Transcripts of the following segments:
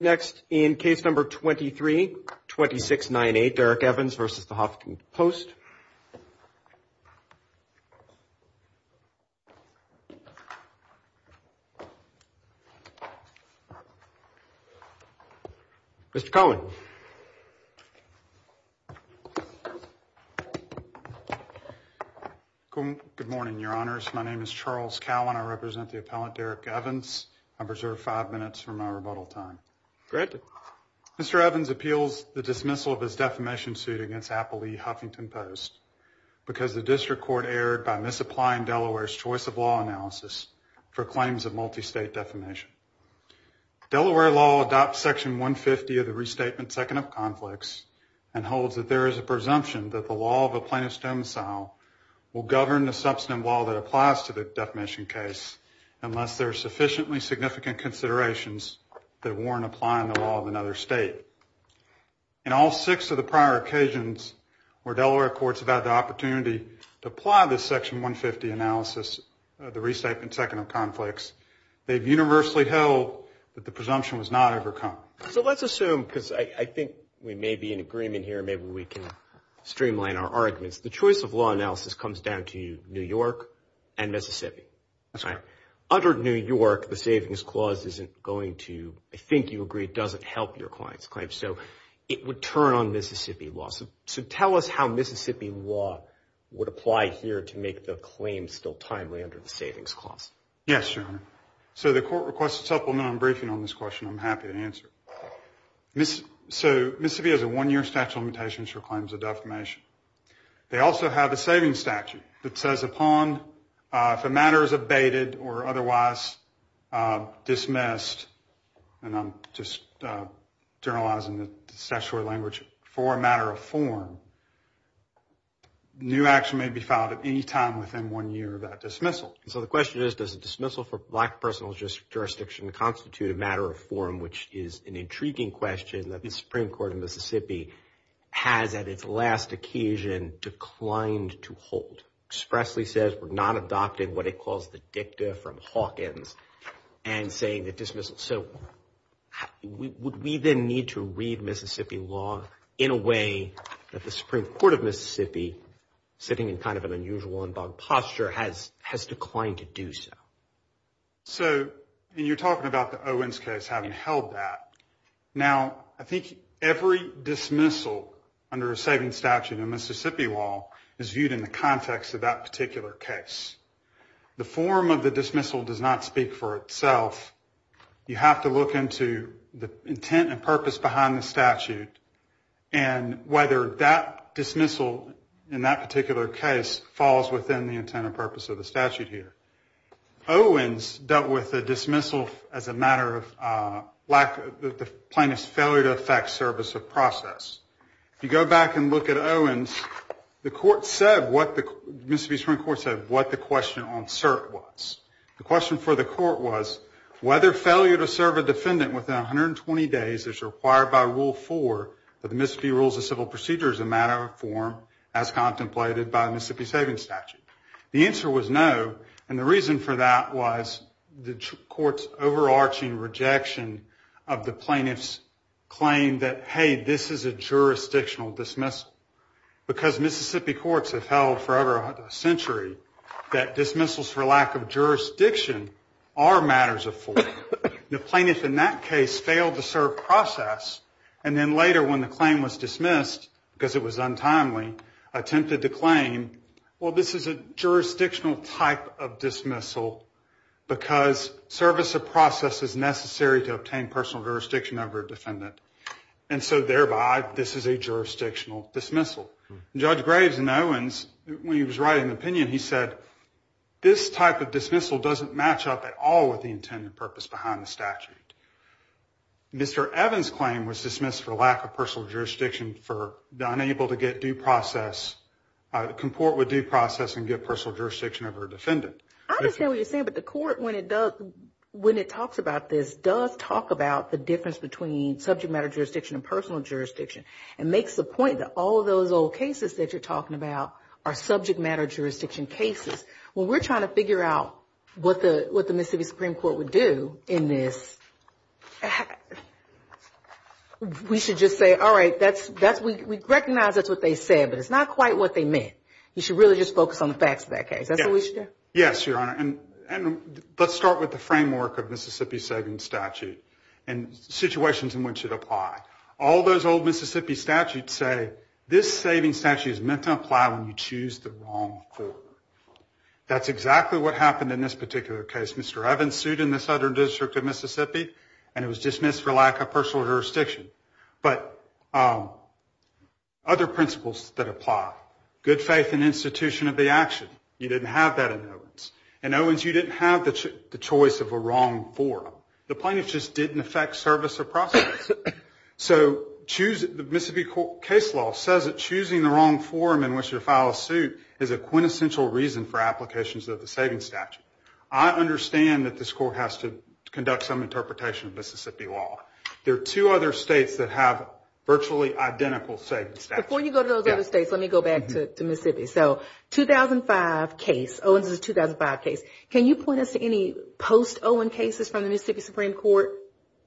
Next, in case number 232698, Derrick Evans v. The Huffington Post. Mr. Cowan. Good morning, your honors. My name is Charles Cowan. I represent the appellant Derrick Evans. I reserve five minutes for my rebuttal time. Mr. Evans appeals the dismissal of his defamation suit against Apple v. Huffington Post because the district court erred by misapplying Delaware's choice of law analysis for claims of multi-state defamation. Delaware law adopts section 150 of the Restatement Second of Conflicts and holds that there is a presumption that the law of a plaintiff's domicile will govern the substantive law that applies to the defamation case unless there are sufficiently significant considerations that warrant applying the law of another state. In all six of the prior occasions where Delaware courts have had the opportunity to apply this universally held that the presumption was not overcome. So let's assume, because I think we may be in agreement here, maybe we can streamline our arguments. The choice of law analysis comes down to New York and Mississippi. That's right. Under New York, the savings clause isn't going to, I think you agree, it doesn't help your client's claim. So it would turn on Mississippi law. So tell us how Mississippi law would apply here to make the claim still timely under the savings clause. Yes, Your Honor. So the court requests a supplement on briefing on this question. I'm happy to answer. So Mississippi has a one-year statute of limitations for claims of defamation. They also have a savings statute that says upon, if a matter is abated or otherwise dismissed, and I'm just generalizing the statutory language, for a matter of form, new action may be filed at any time within one year of that dismissal. So the question is, does a dismissal for black personal jurisdiction constitute a matter of form, which is an intriguing question that the Supreme Court of Mississippi has at its last occasion declined to hold, expressly says we're not adopting what it calls the dicta from Hawkins and saying that dismissal. So would we then need to read Mississippi law in a way that the Supreme Court of Mississippi, sitting in kind of an unusual and bug posture, has declined to do so? So, and you're talking about the Owens case having held that. Now, I think every dismissal under a savings statute in Mississippi law is viewed in the context of that particular case. The form of the dismissal does not speak for itself. You have to look into the intent and purpose behind the statute and whether that dismissal in that particular case falls within the intent and purpose of the statute here. Owens dealt with a dismissal as a matter of the plaintiff's failure to effect service of process. If you go back and look at Owens, the court said, Mississippi Supreme Court said, what the question on cert was. The question for the court was whether failure to serve a defendant within 120 days is required by Rule 4 of the Mississippi Rules of Civil Procedure as a matter of form, as contemplated by Mississippi Savings Statute. The answer was no, and the reason for that was the court's overarching rejection of the plaintiff's claim that, hey, this is a jurisdictional dismissal. Because Mississippi courts have held for over a century that dismissals for lack of jurisdiction are matters of form, the plaintiff in that case failed to serve process. And then later, when the claim was dismissed, because it was untimely, attempted to claim, well, this is a jurisdictional type of dismissal because service of process is necessary to obtain personal jurisdiction over a defendant. And so thereby, this is a jurisdictional dismissal. Judge Graves in Owens, when he was writing the opinion, he said, this type of dismissal doesn't match up at all with the intent and purpose behind the statute. Mr. Evans' claim was dismissed for lack of personal jurisdiction, for unable to get due process, comport with due process, and get personal jurisdiction over a defendant. I understand what you're saying, but the court, when it does, when it talks about this, does talk about the difference between subject matter jurisdiction and personal jurisdiction, and makes the point that all of those old cases that you're talking about are subject matter jurisdiction cases. When we're trying to figure out what the Mississippi Supreme Court would do in this, we should just say, all right, that's, we recognize that's what they said, but it's not quite what they meant. You should really just focus on the facts of that case. That's what we should do? Yes, Your Honor. And let's start with the framework of Mississippi's saving statute, and situations in which it applies. All those old Mississippi statutes say, this saving statute is meant to apply when you choose the wrong court. That's exactly what happened in this particular case. Mr. Evans sued in the Southern District of Mississippi, and it was dismissed for lack of personal jurisdiction. But other principles that apply, good faith and institution of the action, you didn't have that in Owens. In Owens, you didn't have the choice of a wrong forum. The plaintiff just didn't affect service or process. So choose, the Mississippi case law says that choosing the wrong forum in which to file a suit is a quintessential reason for applications of the saving statute. I understand that this court has to conduct some interpretation of Mississippi law. There are two other states that have virtually identical saving statutes. Before you go to those other states, let me go back to Mississippi. So, 2005 case, Owens' 2005 case, can you point us to any post-Owens cases from the Mississippi Supreme Court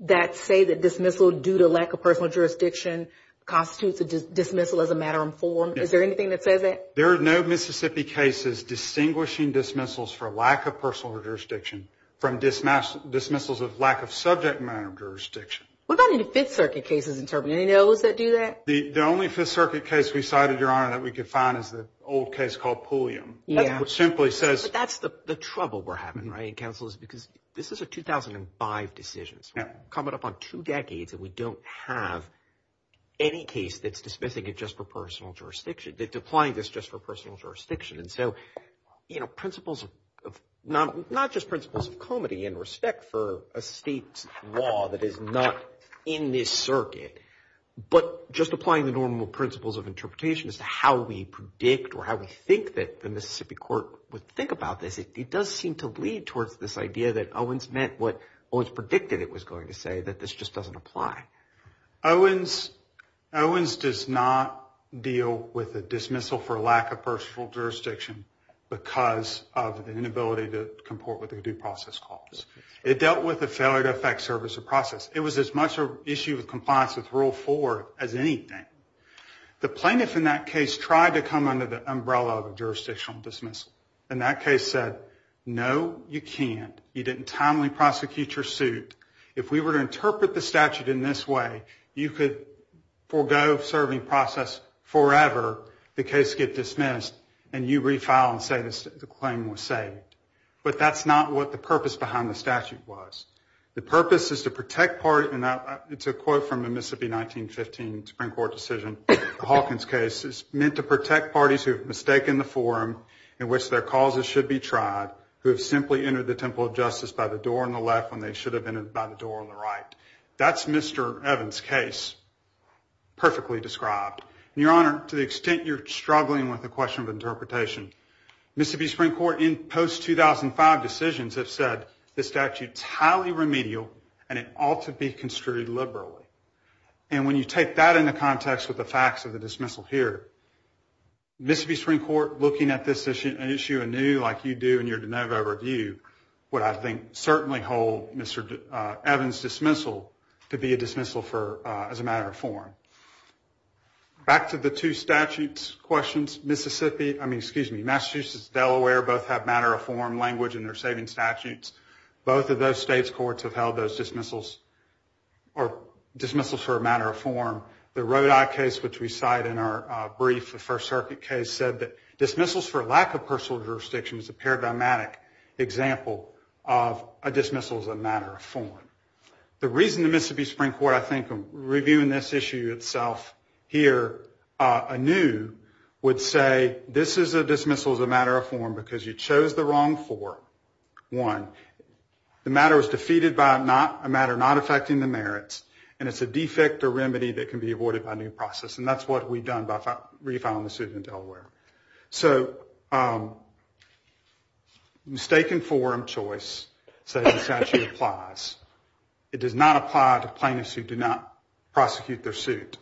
that say that dismissal due to lack of personal jurisdiction constitutes a dismissal as a matter of form? Is there anything that says that? There are no Mississippi cases distinguishing dismissals for lack of personal jurisdiction from dismissals of lack of subject matter jurisdiction. What about any Fifth Circuit cases interpreting any of those that do that? The only Fifth Circuit case we cited, Your Honor, that we could find is the old case called Pulliam. Yeah. Which simply says... But that's the trouble we're having, right, Counsel, is because this is a 2005 decision. Coming up on two decades, and we don't have any case that's dismissing it just for personal jurisdiction. It's applying this just for personal jurisdiction. And so, you know, principles of, not just principles of comity and respect for a state's law that is not in this circuit, but just applying the normal principles of interpretation as to how we predict or how we think that the Mississippi Court would think about this, it does seem to lead towards this idea that Owens meant what Owens predicted it was going to say, that this just doesn't apply. Owens does not deal with a dismissal for lack of personal jurisdiction because of the inability to comport with a due process clause. It dealt with a failure to affect service or process. It was as much an issue of compliance with Rule 4 as anything. The plaintiff in that case tried to come under the umbrella of a jurisdictional dismissal. And that case said, no, you can't. You didn't timely prosecute your suit. If we were to interpret the statute in this way, you could forego serving process forever, the case get dismissed, and you refile and say the claim was saved. But that's not what the purpose behind the statute was. The purpose is to protect parties, and it's a quote from the Mississippi 1915 Supreme Court decision, the Hawkins case. It's meant to protect parties who have mistaken the forum in which their causes should be tried, who have simply entered the temple of justice by the door on the left when they should have entered it by the door on the right. That's Mr. Evans' case, perfectly described. Your Honor, to the extent you're struggling with the question of interpretation, Mississippi Supreme Court in post-2005 decisions have said the statute's highly remedial, and it ought to be construed liberally. And when you take that into context with the facts of the dismissal here, Mississippi Supreme Court, looking at this issue anew like you do in your de novo review, would I think certainly hold Mr. Evans' dismissal to be a dismissal as a matter of form. Back to the two statutes questions, Massachusetts and Delaware both have matter of form language in their saving statutes. Both of those states' courts have held those dismissals for a matter of form. The Rodi case, which we cite in our brief, the First Circuit case, said that dismissals for lack of personal jurisdiction is a paradigmatic example of a dismissal as a matter of form. The reason the Mississippi Supreme Court, I think, reviewing this issue itself here anew, would say this is a dismissal as a matter of form because you chose the wrong form. One, the matter was defeated by a matter not affecting the merits, and it's a defect or remedy that can be avoided by a new process, and that's what we've done by refiling the suit in Delaware. So mistaken form choice, says the statute applies. It does not apply to plaintiffs who do not prosecute their suit.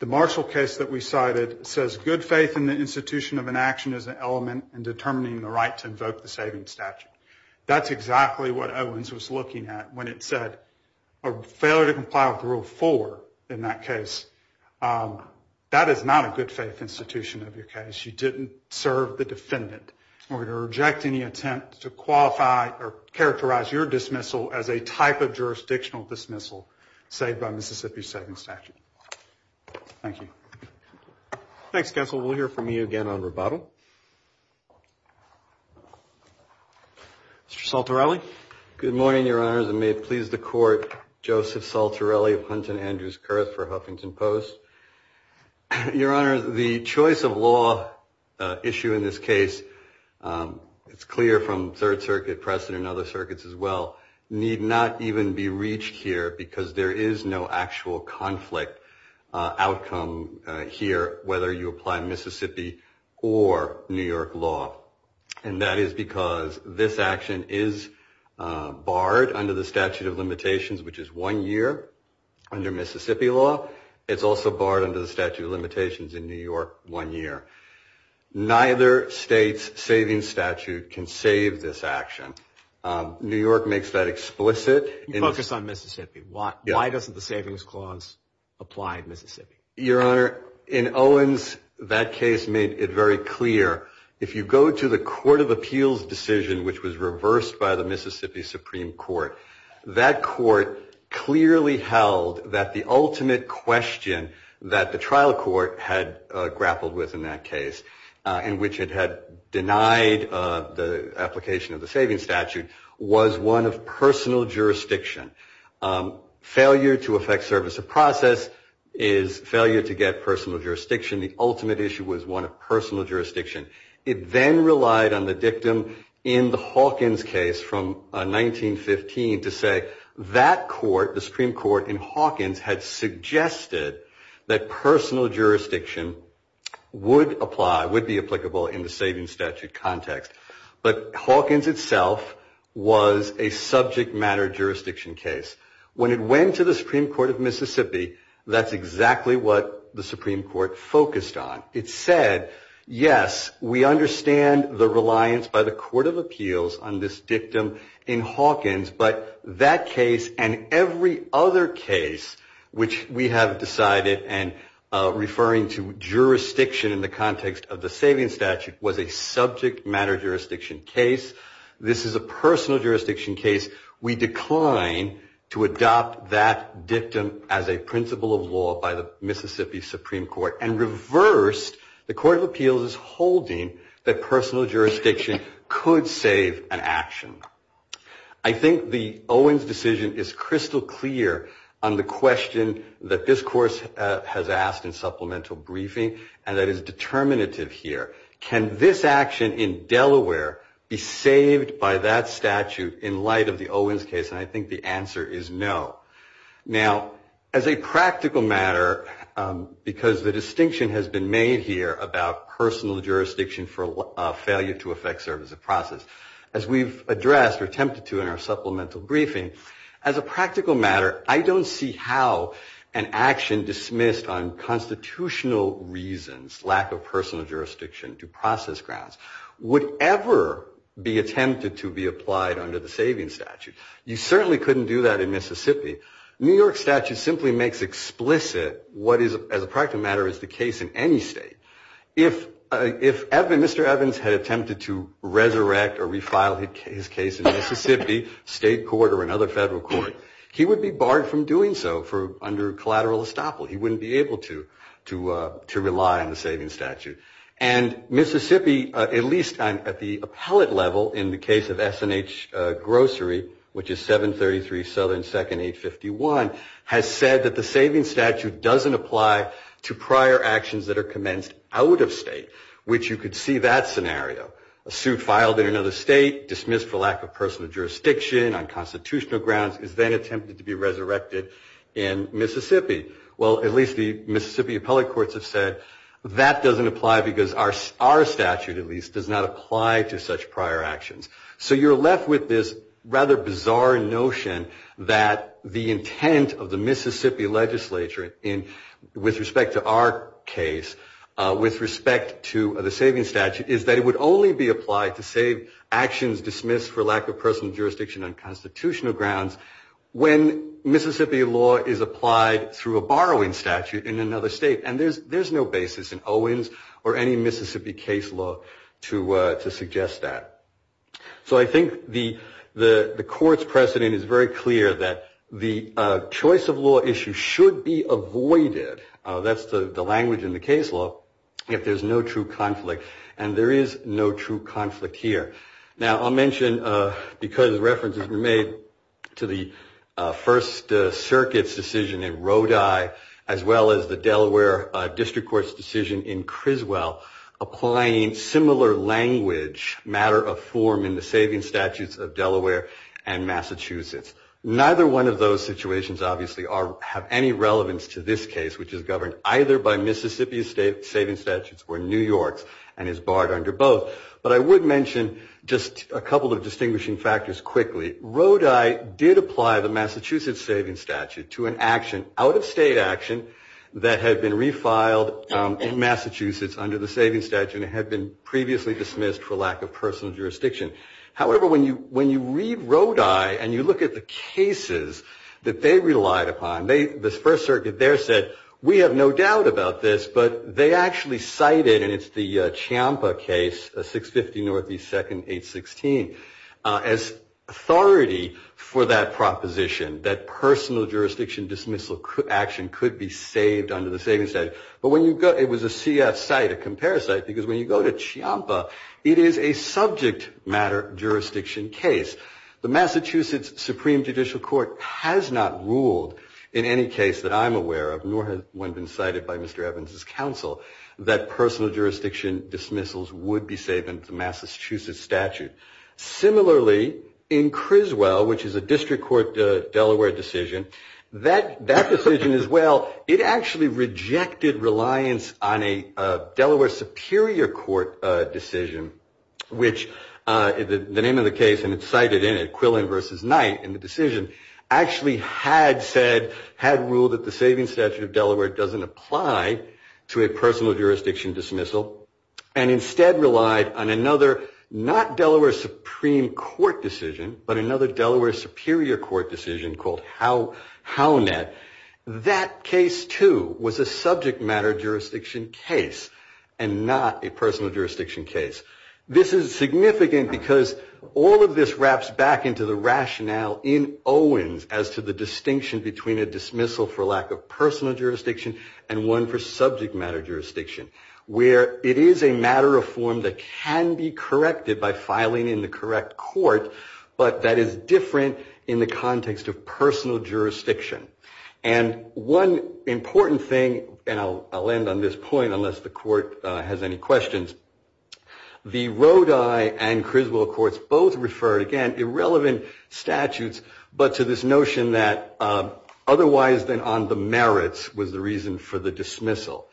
The Marshall case that we cited says good faith in the institution of an action is an element in determining the right to invoke the saving statute. That's exactly what Owens was looking at when it said a failure to comply with rule four in that case. That is not a good faith institution of your case. You didn't serve the defendant. We're going to reject any attempt to qualify or characterize your dismissal as a type of jurisdictional dismissal, say, by Mississippi's saving statute. Thank you. Thanks, counsel. We'll hear from you again on rebuttal. Mr. Saltarelli? Good morning, your honors, and may it please the court, Joseph Saltarelli of Hunton Andrews Kurth for Huffington Post. Your honor, the choice of law issue in this case, it's clear from Third Circuit precedent and other circuits as well, need not even be reached here because there is no actual conflict outcome here, whether you apply Mississippi or New York law. And that is because this action is barred under the statute of limitations, which is one year under Mississippi law. It's also barred under the statute of limitations in New York one year. Neither state's saving statute can save this action. New York makes that explicit. You focus on Mississippi. Why doesn't the savings clause apply in Mississippi? Your honor, in Owens, that case made it very clear. If you go to the Court of Appeals decision, which was reversed by the Mississippi Supreme Court, that court clearly held that the ultimate question that the trial court had grappled with in that case, in which it had denied the application of the savings statute, was one of personal jurisdiction. Failure to effect service of process is failure to get personal jurisdiction. The ultimate issue was one of personal jurisdiction. It then relied on the dictum in the Hawkins case from 1915 to say that court, the Supreme Court in Hawkins, had suggested that personal jurisdiction would apply, would be applicable in the savings statute context. But Hawkins itself was a subject matter jurisdiction case. When it went to the Supreme Court of Mississippi, that's exactly what the Supreme Court focused on. It said, yes, we understand the reliance by the Court of Appeals on this dictum in Hawkins, but that case and every other case which we have decided and referring to jurisdiction in the context of the savings of law by the Mississippi Supreme Court, and reversed, the Court of Appeals is holding that personal jurisdiction could save an action. I think the Owens decision is crystal clear on the question that this Court has asked in supplemental briefing, and that is determinative here. Can this action in Now, as a practical matter, because the distinction has been made here about personal jurisdiction for failure to effect service of process, as we've addressed or attempted to in our supplemental briefing, as a practical matter, I don't see how an action dismissed on constitutional reasons, lack of statute simply makes explicit what is, as a practical matter, is the case in any state. If Mr. Evans had attempted to resurrect or refile his case in Mississippi, state court or another federal court, he would be barred from doing so under collateral estoppel. He wouldn't be able to rely on the And Mississippi, at least at the appellate level, in the case of S&H Grocery, which is 733 Southern 2nd 851, has said that the saving statute doesn't apply to prior actions that are commenced out of state, which you could see that scenario. A suit filed in another state, dismissed for lack of personal jurisdiction on constitutional grounds, is then attempted to be resurrected in Mississippi. Well, at least the Mississippi appellate courts have said that doesn't apply because our statute, at least, does not apply to such prior actions. So you're left with this rather bizarre notion that the intent of the Mississippi legislature, with respect to our case, with respect to the saving statute, is that it would only be applied to save actions dismissed for lack of personal jurisdiction on constitutional grounds when Mississippi law is applied through a There's no basis in Owens or any Mississippi case law to suggest that. So I think the court's precedent is very clear that the choice of law issue should be avoided, that's the language in the case law, if there's no true conflict. And there is no true conflict here. Now, I'll mention reference has been made to the First Circuit's decision in Rodi, as well as the Delaware District Court's decision in Criswell, applying similar language, matter of form, in the saving statutes of Delaware and Massachusetts. Neither one of those situations, obviously, have any relevance to this quickly. Rodi did apply the Massachusetts saving statute to an action, out-of-state action, that had been refiled in Massachusetts under the saving statute and had been previously dismissed for lack of personal jurisdiction. However, when you read Rodi and you look at the cases that they relied upon, the First Circuit there said, we have no doubt about this, but they actually cited, and it's the Ciampa case, 650 Northeast 2nd, 816, as authority for that proposition, that personal jurisdiction dismissal action could be saved under the saving statute. But when you go, it was a CF cite, a compare cite, because when you go to Ciampa, it is a subject matter jurisdiction case. The Massachusetts Supreme Judicial Court has not ruled in any case that I'm aware of, nor has one been cited by Mr. Evans's counsel, that personal jurisdiction dismissals would be saved under the Massachusetts statute. Similarly, in Criswell, which is a district court Delaware decision, that decision as well, it actually rejected reliance on a Delaware Superior Court decision, which the name of the case, and it's cited in it, Quillen v. Knight, in the decision, actually had said, had ruled that the saving statute of Delaware doesn't apply to a personal jurisdiction dismissal, and instead relied on another, not Delaware Supreme Court decision, but another Delaware Superior Court decision called Hownet. That case, too, was a subject matter jurisdiction case, and not a personal jurisdiction case. This is jurisdiction, and one for subject matter jurisdiction, where it is a matter of form that can be corrected by filing in the correct court, but that is different in the context of personal jurisdiction. And one important thing, and I'll end on this point unless the court has any questions, the Rodi and Criswell courts both refer, again, irrelevant statutes, but to this notion that otherwise than on the merits was the reason for the dismissal.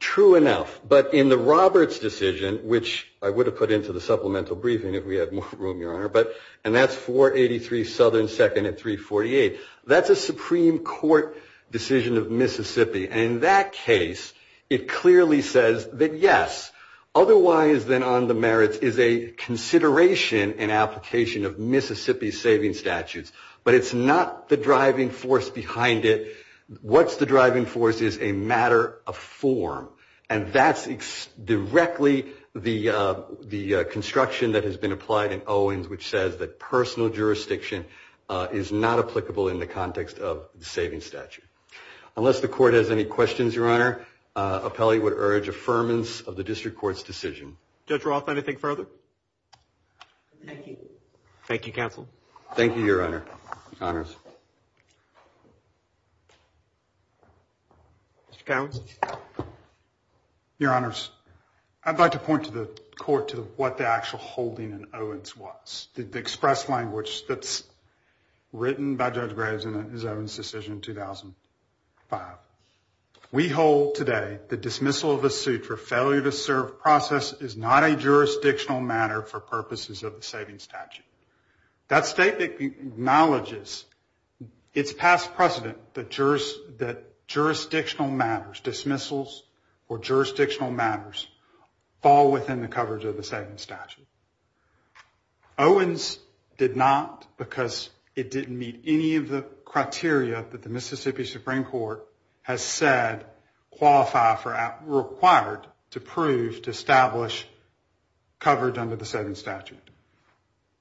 True enough, but in the Roberts decision, which I would have put into the supplemental briefing if we had more room, Your Honor, and that's 483 Southern 2nd and 348, that's a Supreme Court decision of Mississippi, and in that case, it clearly says that, yes, otherwise than on the merits is a consideration and application of Mississippi's saving statutes, but it's not the driving force behind it. What's the driving force is a matter of form, and that's directly the construction that has been Unless the court has any questions, Your Honor, appellate would urge affirmance of the district court's decision. Judge Roth, anything further? Thank you. Thank you, counsel. Thank you, Your Honor. Honors. Your Honors, I'd like to point to the court to what the actual holding in Owens was. The express language that's decision in 2005. We hold today the dismissal of a suit for failure to serve process is not a jurisdictional matter for purposes of the saving statute. That state acknowledges its past precedent that jurisdictional matters, dismissals or jurisdictional matters, fall within the coverage of the saving statute. Owens did not because it didn't meet any of the criteria that the Mississippi Supreme Court has said qualify for, required to prove, to establish coverage under the saving statute.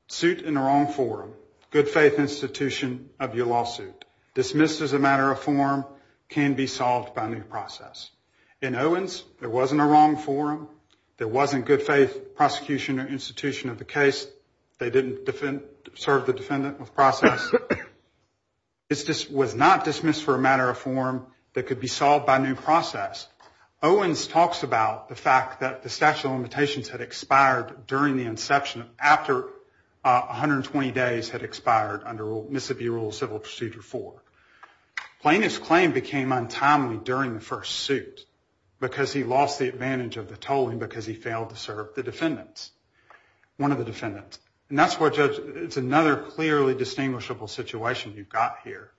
Suit in the wrong forum, good faith institution of your lawsuit. Dismissed as a matter of form can be solved by new process. In Owens, there process. It was not dismissed for a matter of form that could be solved by new process. Owens talks about the fact that the statute of limitations had expired during the inception after 120 days had expired under Mississippi Civil Procedure 4. Plaintiff's claim became untimely during the first suit because he lost the situation you've got here.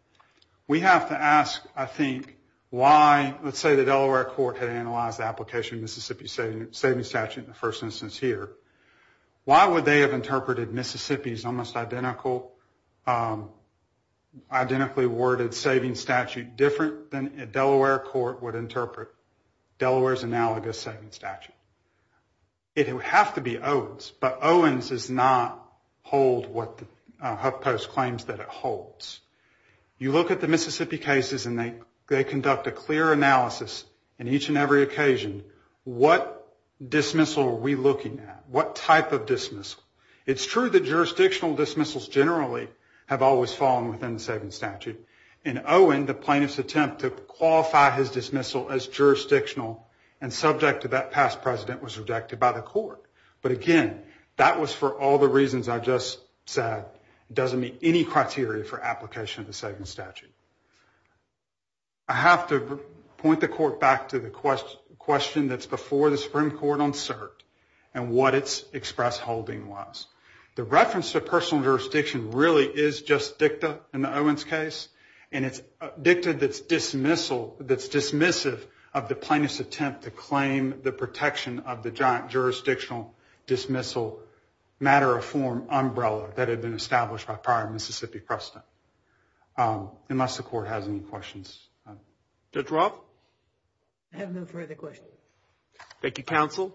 We have to ask, I think, why, let's say the Delaware court had analyzed the application of Mississippi saving statute in the first instance here. Why would they have interpreted Mississippi's almost identical, identically worded saving statute different than a Delaware court would have interpreted Mississippi's? The Mississippi Supreme Court claims that it holds. You look at the Mississippi cases and they conduct a clear analysis in each and every occasion. What dismissal are we looking at? What type of dismissal? It's true that jurisdictional dismissals generally have always fallen within the jurisdiction of the Supreme Court. It's just sad. It doesn't meet any criteria for application of the saving statute. I have to point the court back to the question that's before the Supreme Court on cert and what its express holding was. The reference to personal jurisdiction really is just dicta in the Owens case and it's dicta that's dismissal, that's dismissive of the plaintiff's attempt to claim the protection of the jurisdictional dismissal matter of form umbrella that had been established by prior Mississippi precedent. Unless the court has any questions. Judge Roth? I have no further questions. Thank you, counsel.